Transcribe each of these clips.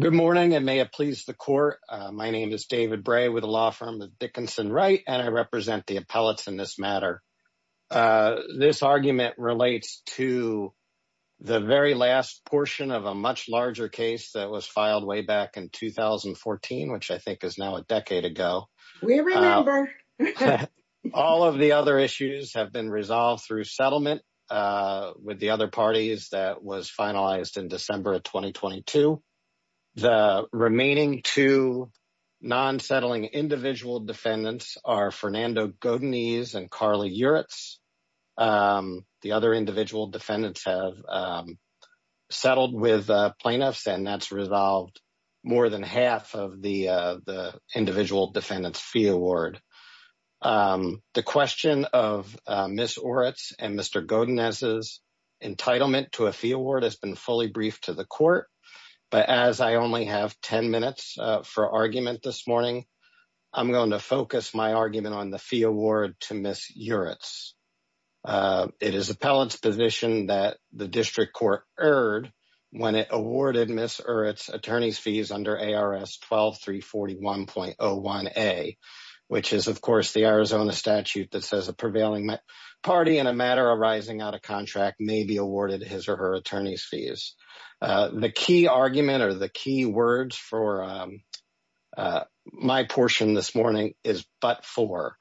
Good morning, and may it please the court. My name is David Bray with a law firm with Dickinson Wright, and I represent the appellates in this matter. This argument relates to the very last portion of a much larger case that was filed way back in 2014, which I think is now a decade ago. We remember. All of the other issues have been resolved through settlement with the other parties that was finalized in December of 2022. The remaining two non-settling individual defendants are Fernando Godinez and Carly Uritz. The other individual defendants have settled with plaintiffs, and that's resolved more than half of the individual defendants fee award. The question of Ms. Uritz and Mr. Godinez's entitlement to a fee award has been fully briefed to the court, but as I only have 10 minutes for argument this morning, I'm going to focus my argument on the fee award to Ms. Uritz. It is appellate's position that the district court erred when it awarded Ms. Uritz attorney's under ARS 12341.01a, which is, of course, the Arizona statute that says a prevailing party in a matter arising out of contract may be awarded his or her attorney's fees. The key argument or the key words for my portion this morning is but for.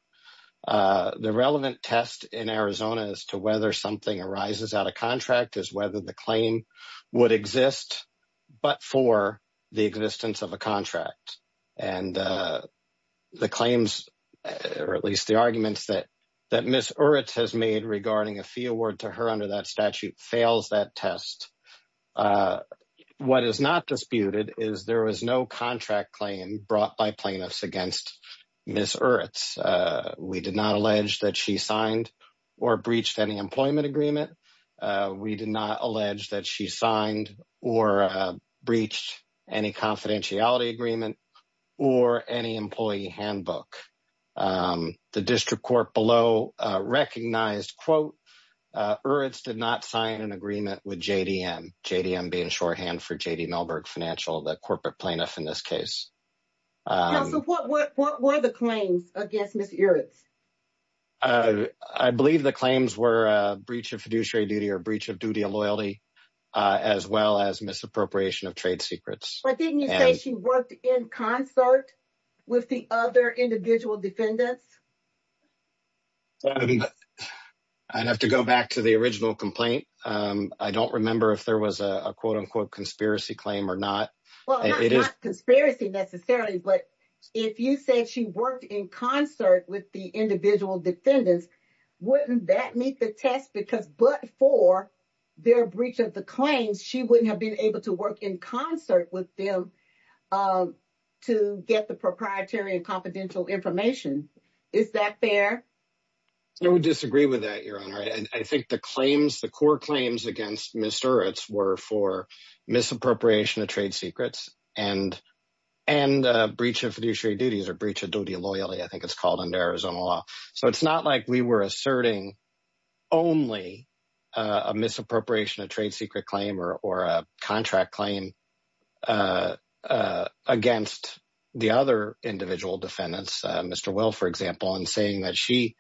The relevant test in Arizona as to whether something arises out of contract is whether the claim would exist but for the existence of a contract and the claims or at least the arguments that that Ms. Uritz has made regarding a fee award to her under that statute fails that test. What is not disputed is there is no contract claim brought by plaintiffs against Ms. Uritz. We did not allege that she signed or breached any employment agreement. We did not allege that she signed or breached any confidentiality agreement or any employee handbook. The district court below recognized, quote, Uritz did not sign an agreement with JDM, JDM being shorthand for JD Melberg Financial, the corporate plaintiff in this case. Now, so what were the claims against Ms. Uritz? I believe the claims were a breach of fiduciary duty or breach of duty and loyalty as well as misappropriation of trade secrets. But didn't you say she worked in concert with the other individual defendants? I'd have to go back to the original complaint. I don't remember if there was a quote unquote conspiracy claim or not. Well, it is not in concert with the individual defendants. Wouldn't that meet the test? Because but for their breach of the claims, she wouldn't have been able to work in concert with them to get the proprietary and confidential information. Is that fair? I would disagree with that, Your Honor. I think the claims, the core claims against Ms. Uritz were for misappropriation of trade secrets and breach of fiduciary duties or breach of duty and loyalty, I think it's called under Arizona law. So it's not like we were asserting only a misappropriation of trade secret claim or a contract claim against the other individual defendants, Mr. Will, for example, and saying that she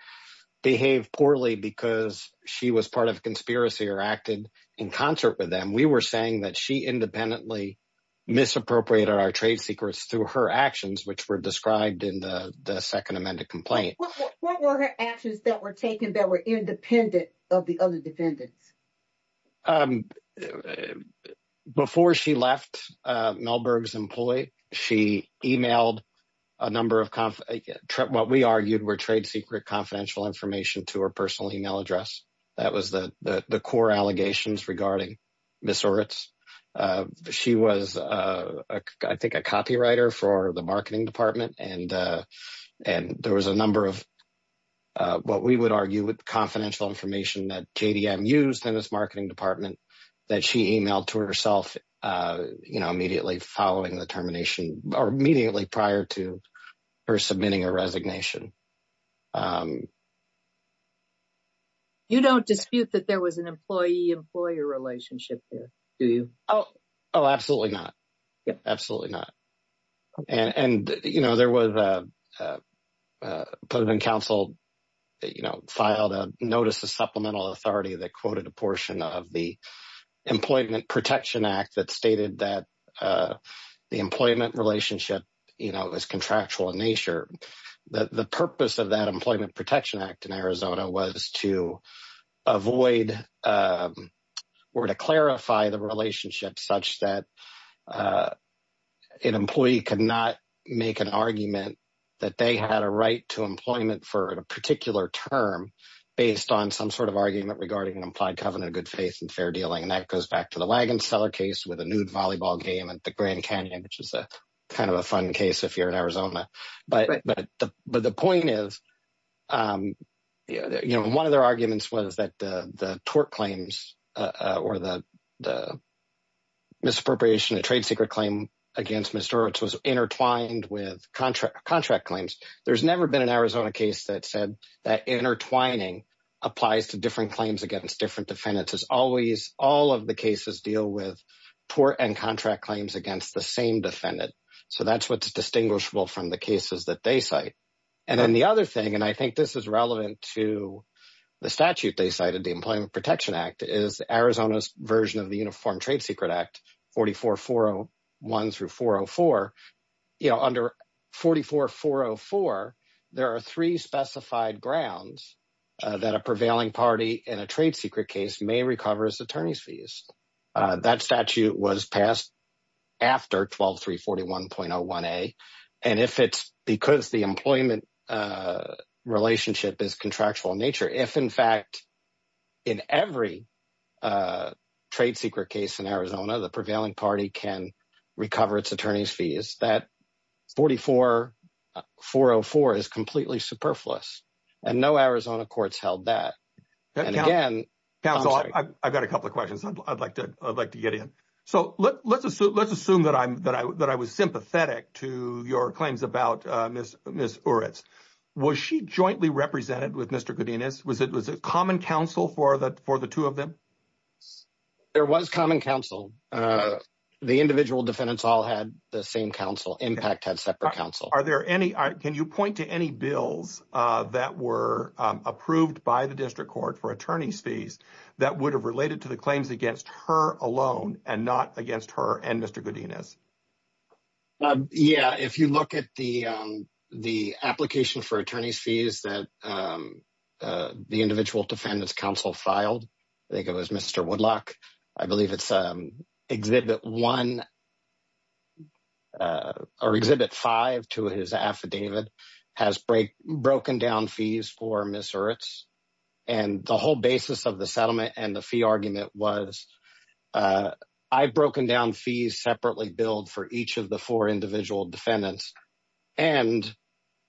behaved poorly because she was part of a conspiracy or acted in concert with them. We were saying that she independently misappropriated our trade secrets through her actions, which were described in the second amended complaint. What were her actions that were taken that were independent of the other defendants? Before she left Melberg's employee, she emailed a number of what we argued were trade secret confidential information to her personal email address. That was the core allegations regarding Ms. Uritz. She was, I think, a copywriter for the marketing department and there was a number of what we would argue with confidential information that JDM used in this marketing department that she emailed to herself immediately following termination or immediately prior to her submitting a resignation. You don't dispute that there was an employee-employer relationship there, do you? Oh, absolutely not. Absolutely not. And there was a public counsel that filed a notice of supplemental authority that quoted a portion of the Employment Protection Act that stated that the employment relationship was contractual in nature. The purpose of that Employment Protection Act in Arizona was to avoid or to clarify the relationship such that an employee could not make an argument that they had a right to employment for a particular term based on some sort of argument regarding an implied covenant of good faith and fair dealing. That goes back to the Grand Canyon, which is kind of a fun case if you're in Arizona. But the point is, one of their arguments was that the tort claims or the misappropriation of trade secret claim against Ms. Uritz was intertwined with contract claims. There's never been an Arizona case that said that intertwining applies to different claims against different defendants. As always, all of the cases deal with tort and contract claims against the same defendant. So that's what's distinguishable from the cases that they cite. And then the other thing, and I think this is relevant to the statute they cited, the Employment Protection Act, is Arizona's version of the Uniform Trade Secret Act, 44-401 through 404. Under 44-404, there are three specified grounds that a prevailing party in a trade secret case may recover its attorney's fees. That statute was passed after 12341.01a. And if it's because the employment relationship is contractual in nature, if in fact, in every trade secret case in Arizona, the prevailing party can recover its attorney's fees, that 44-404 is completely superfluous. And no Arizona courts held that. And again, I'm sorry. Counsel, I've got a couple of questions I'd like to get in. So let's assume that I was sympathetic to your claims about Ms. Uritz. Was she jointly represented with Mr. Godinez? Was it common counsel for the two of them? There was common counsel. The individual defendants all had the same counsel. Impact had separate counsel. Can you point to any bills that were approved by the district court for attorney's fees that would have related to the claims against her alone and not against her and Mr. Godinez? Yeah. If you look at the application for attorney's fees that the individual defendants counsel filed, I think it was Mr. Woodlock. I believe it's exhibit one or exhibit five to his affidavit has broken down fees for Ms. Uritz. And the whole basis of the settlement and the fee argument was I've broken down fees separately billed for each of the four individual defendants. And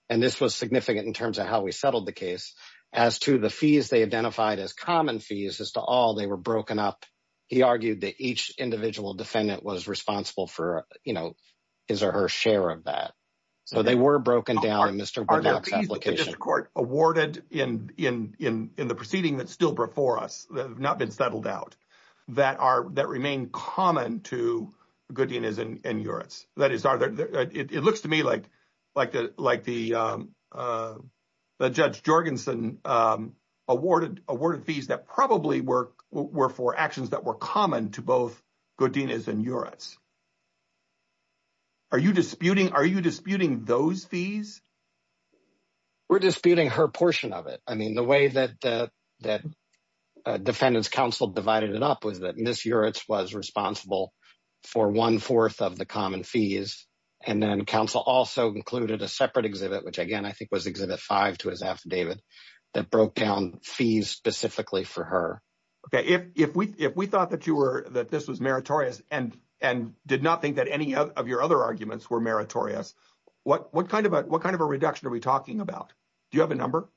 this was significant in terms of how we settled the case as to the fees they identified as common fees as to all they were broken up. He argued that each individual defendant was responsible for his or her share of that. So they were broken down in Mr. Woodlock's application. Are there fees that the district court awarded in the proceeding that's still before us, that have not been settled out, that remain common to Godinez and Uritz? That is, it looks to me like the Judge Jorgensen awarded fees that probably were for actions that were common to both Godinez and Uritz. Are you disputing those fees? We're disputing her portion of it. I mean, the way that defendants counsel divided it up was that Ms. Uritz was responsible for one-fourth of the common fees. And then counsel also included a separate exhibit, which again, I think was exhibit five to his affidavit, that broke down fees specifically for her. Okay. If we thought that this was meritorious and did not think that any of your other arguments were meritorious, what kind of a reduction are we talking about? Do you have a number?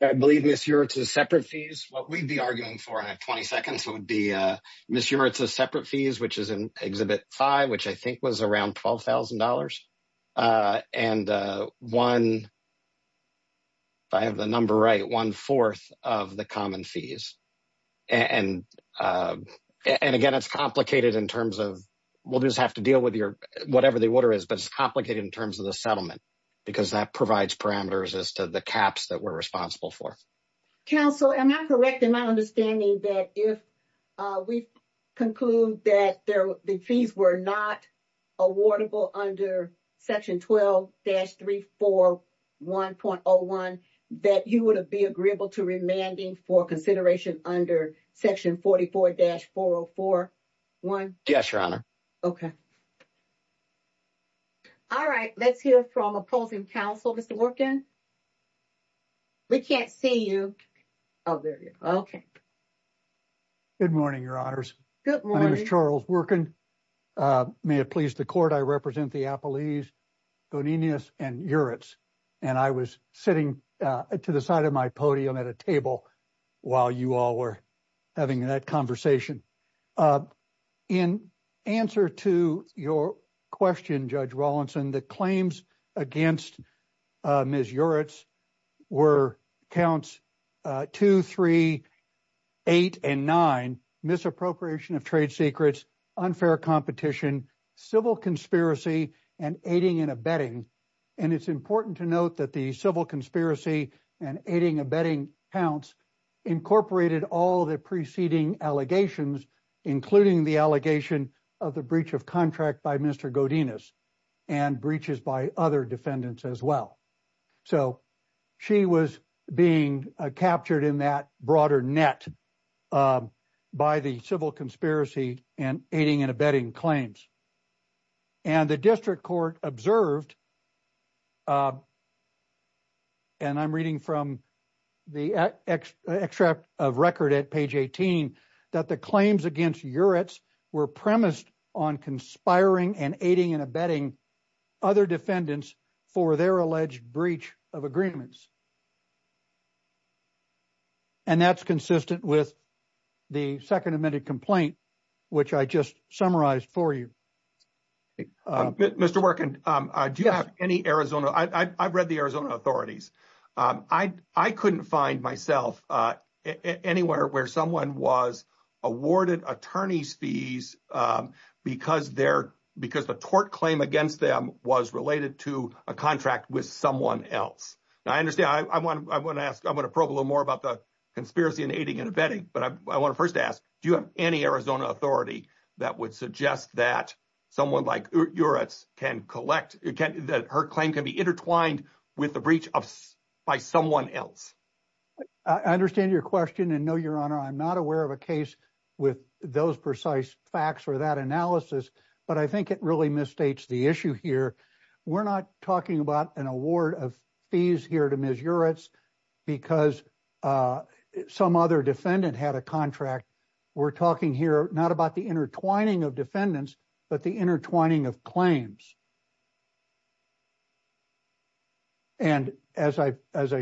I believe Ms. Uritz's separate fees, what we'd be arguing for, and I have 20 seconds, would be Ms. Uritz's separate fees, which is in exhibit five, which I think was around $12,000. And one, if I have the number right, one-fourth of the common fees. And again, it's complicated in terms of, we'll just have to deal with your, whatever the order is, but it's complicated in terms of the settlement, because that provides parameters as to the caps that we're responsible for. Counsel, am I correct in my understanding that if we conclude that the fees were not awardable under section 12-341.01, that you would be agreeable to remanding for consideration under section 44-404.1? Yes, your honor. Okay. All right, let's hear from opposing counsel, Mr. Worken. We can't see you. Oh, there you are. Okay. Good morning, your honors. My name is Charles Worken. May it please the court, I represent the Appalachians, Boninias, and Uritz. And I was sitting to the side of my podium at a while you all were having that conversation. In answer to your question, Judge Rawlinson, the claims against Ms. Uritz were counts two, three, eight, and nine, misappropriation of trade secrets, unfair competition, civil conspiracy, and aiding and abetting. And it's important to note that the civil conspiracy and aiding and abetting counts incorporated all the preceding allegations, including the allegation of the breach of contract by Mr. Godinez and breaches by other defendants as well. So she was being captured in that broader net by the civil conspiracy and aiding and abetting claims. And the district court observed, and I'm reading from the extract of record at page 18, that the claims against Uritz were premised on conspiring and aiding and abetting other defendants for their alleged breach of agreements. And that's consistent with the second amended complaint, which I just read. I've read the Arizona authorities. I couldn't find myself anywhere where someone was awarded attorney's fees because the tort claim against them was related to a contract with someone else. Now, I understand. I'm going to probe a little more about the conspiracy and aiding and abetting, but I want to first ask, do you have any Arizona authority that would suggest that someone like Uritz can collect, her claim can be intertwined with the breach by someone else? I understand your question. And no, your honor, I'm not aware of a case with those precise facts or that analysis, but I think it really misstates the issue here. We're not talking about an award of fees here to Ms. Uritz because some other defendant had a contract. We're talking here not about the intertwining of defendants, but the intertwining of claims. And as I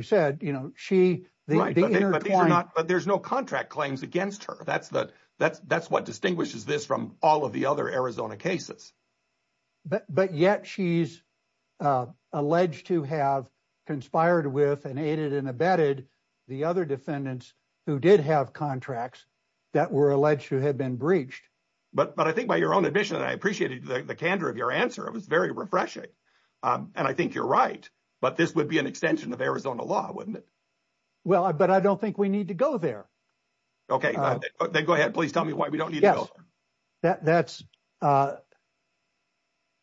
said, she- But there's no contract claims against her. That's what distinguishes this from all of the other Arizona cases. But yet she's alleged to have conspired with and aided and abetted the other defendants who did have contracts that were alleged to have been breached. But I think by your own admission, and I appreciated the candor of your answer, it was very refreshing. And I think you're right, but this would be an extension of Arizona law, wouldn't it? Well, but I don't think we need to go there. Okay. Then go ahead. Please tell me why we don't need to go there. Yes.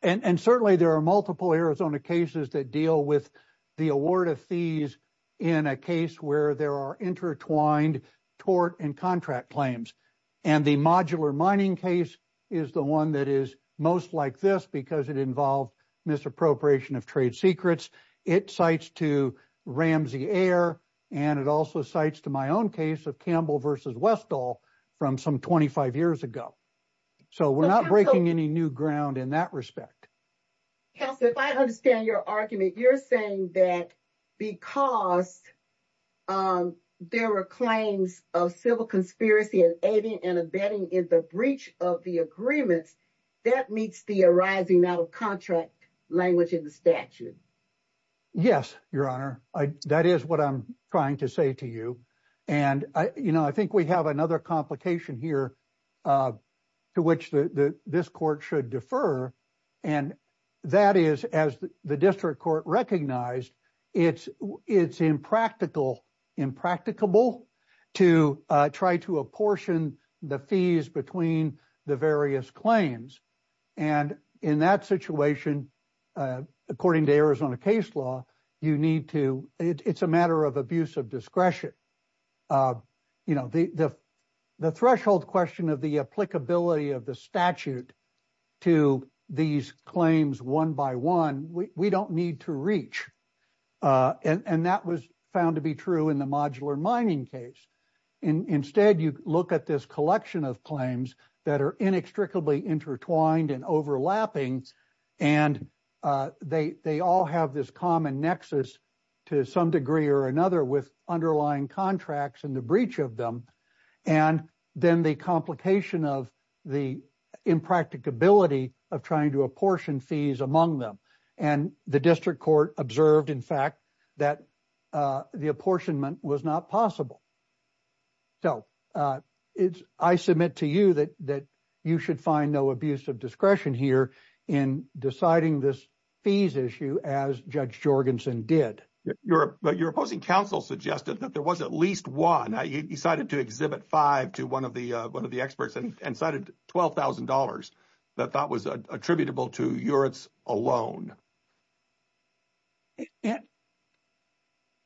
And certainly there are multiple Arizona cases that deal with the award of fees in a case where there are intertwined tort and contract claims. And the modular mining case is the one that is most like this because it involved misappropriation of trade secrets. It cites to Ramsey Ayer, and it also cites to my own case of Campbell versus Westall from some 25 years ago. So we're not breaking any new ground in that respect. Counselor, if I understand your argument, you're saying that because there were claims of civil conspiracy and aiding and abetting in the breach of the agreements, that meets the arising out of contract language in the statute. Yes, Your Honor. That is what I'm trying to say to you. And I think we have another complication here to which this court should defer. And that is, as the district court recognized, it's impractical, impracticable to try to apportion the fees between the various claims. And in that situation, according to Arizona case law, it's a matter of abuse of discretion. And, you know, the threshold question of the applicability of the statute to these claims one by one, we don't need to reach. And that was found to be true in the modular mining case. Instead, you look at this collection of claims that are inextricably intertwined and overlapping. And they all have this common nexus to some degree or another with underlying contracts and the breach of them. And then the complication of the impracticability of trying to apportion fees among them. And the district court observed, in fact, that the apportionment was not possible. So I submit to you that you should find no abuse of discretion here in deciding this fees issue as Judge Jorgensen did. But your opposing counsel suggested that there was at least one. You decided to exhibit five to one of the experts and cited $12,000 that that was attributable to Uritz alone.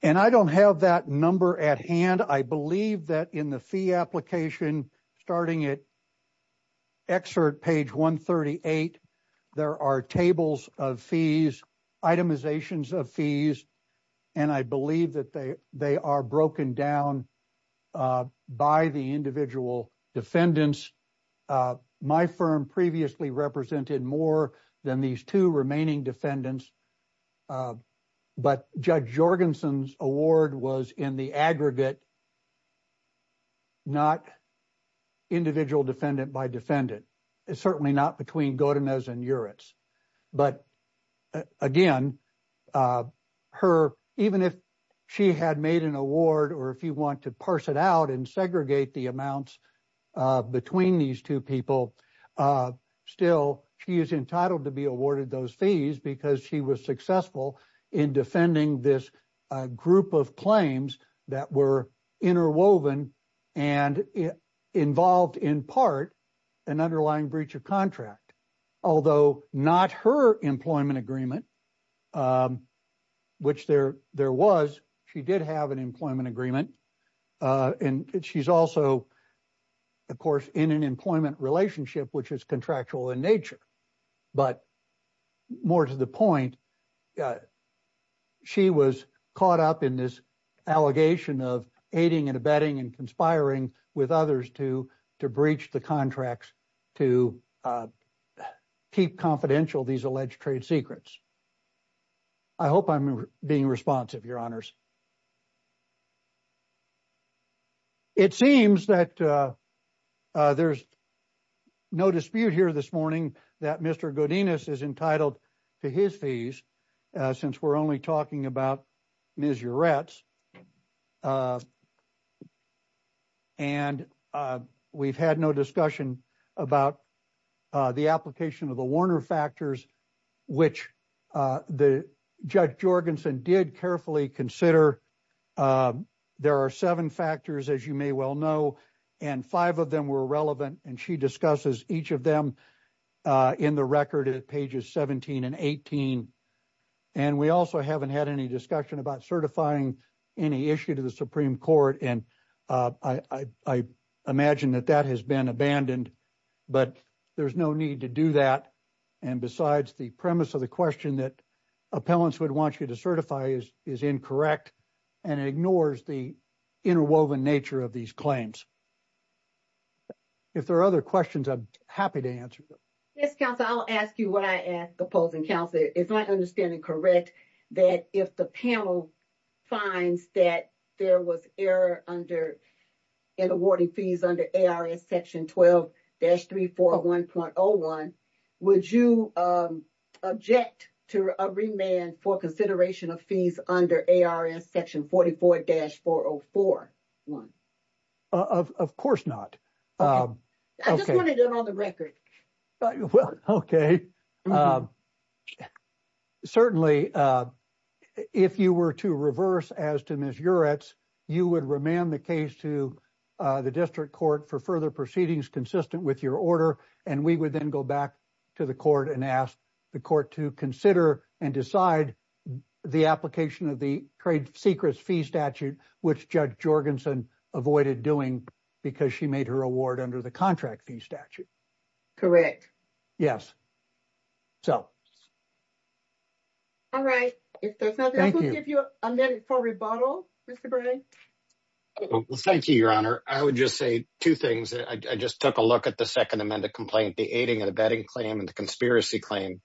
And I don't have that number at hand. I believe that in the fee application, starting at excerpt page 138, there are tables of fees, itemizations of fees, and I believe that they are broken down by the individual defendants. My firm previously represented more than these two remaining defendants. But Judge Jorgensen's award was in the aggregate, not individual defendant by defendant. It's certainly not between Godinez and Uritz. But again, her, even if she had made an award or if you want to parse it out and segregate the amounts between these two people, still, she is entitled to be awarded those fees because she was successful in defending this group of claims that were interwoven and involved in part an underlying breach of contract. Although not her employment agreement, which there was, she did have an employment agreement. And she's also, of course, in an employment relationship, which is contractual in nature. But more to the point, she was caught up in this allegation of aiding and abetting and conspiring with others to breach the contracts to keep confidential these alleged trade secrets. I hope I'm being responsive, Your Honors. It seems that there's no dispute here this morning that Mr. Godinez is entitled to his fees since we're only talking about Ms. Uritz. And we've had no discussion about the application of the Warner factors, which Judge Jorgensen did carefully consider. There are seven factors, as you may well know, and five of them were relevant. And she discusses each of them in the record at pages 17 and 18. And we also haven't had any discussion about certifying any issue to the Supreme Court. And I imagine that that has been abandoned, but there's no need to do that. And besides, the premise of the question that appellants would want you to certify is incorrect, and it ignores the interwoven nature of these claims. If there are other questions, I'm happy to answer them. Yes, counsel, I'll ask you what I ask opposing counsel. Is my understanding correct that if the panel finds that there was error in awarding fees under ARS section 12-341.01, would you object to a remand for consideration of fees under ARS section 44-404.01? Of course not. I just wanted it on the record. Well, okay. Certainly, if you were to reverse as to Ms. Juretz, you would remand the case to the district court for further proceedings consistent with your order. And we would then go back to the court and ask the court to consider and decide the application of the trade secrets fee statute, which Judge Jorgensen avoided doing because she made her award under the contract fee statute. Yes. So. All right. If there's nothing else, we'll give you a minute for rebuttal, Mr. Bray. Thank you, Your Honor. I would just say two things. I just took a look at the second amended complaint. The aiding and abetting claim and the conspiracy claim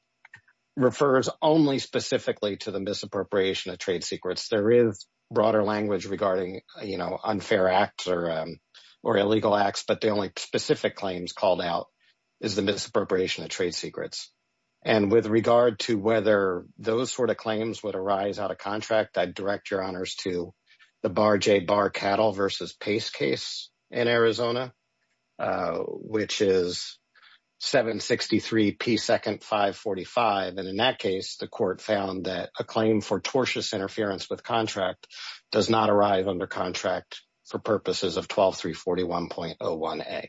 refers only specifically to the misappropriation of trade secrets. There is broader language regarding unfair acts or illegal acts, but the only specific claims called out is the misappropriation of trade secrets. And with regard to whether those sort of claims would arise out of contract, I'd direct your honors to the Bar J Bar Cattle versus Pace case in Arizona, which is 763 P 2nd 545. And in that case, the court found that a claim for tortious interference with contract does not arrive under contract for purposes of 12341.01a.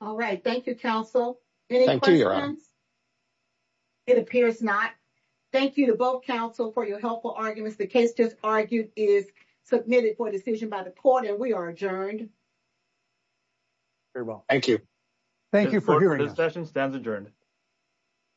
All right. Thank you, counsel. Any questions? Thank you, Your Honor. It appears not. Thank you to both counsel for your helpful arguments. The case just argued is submitted for decision by the court, and we are adjourned. Very well. Thank you. Thank you for hearing us. This session stands adjourned.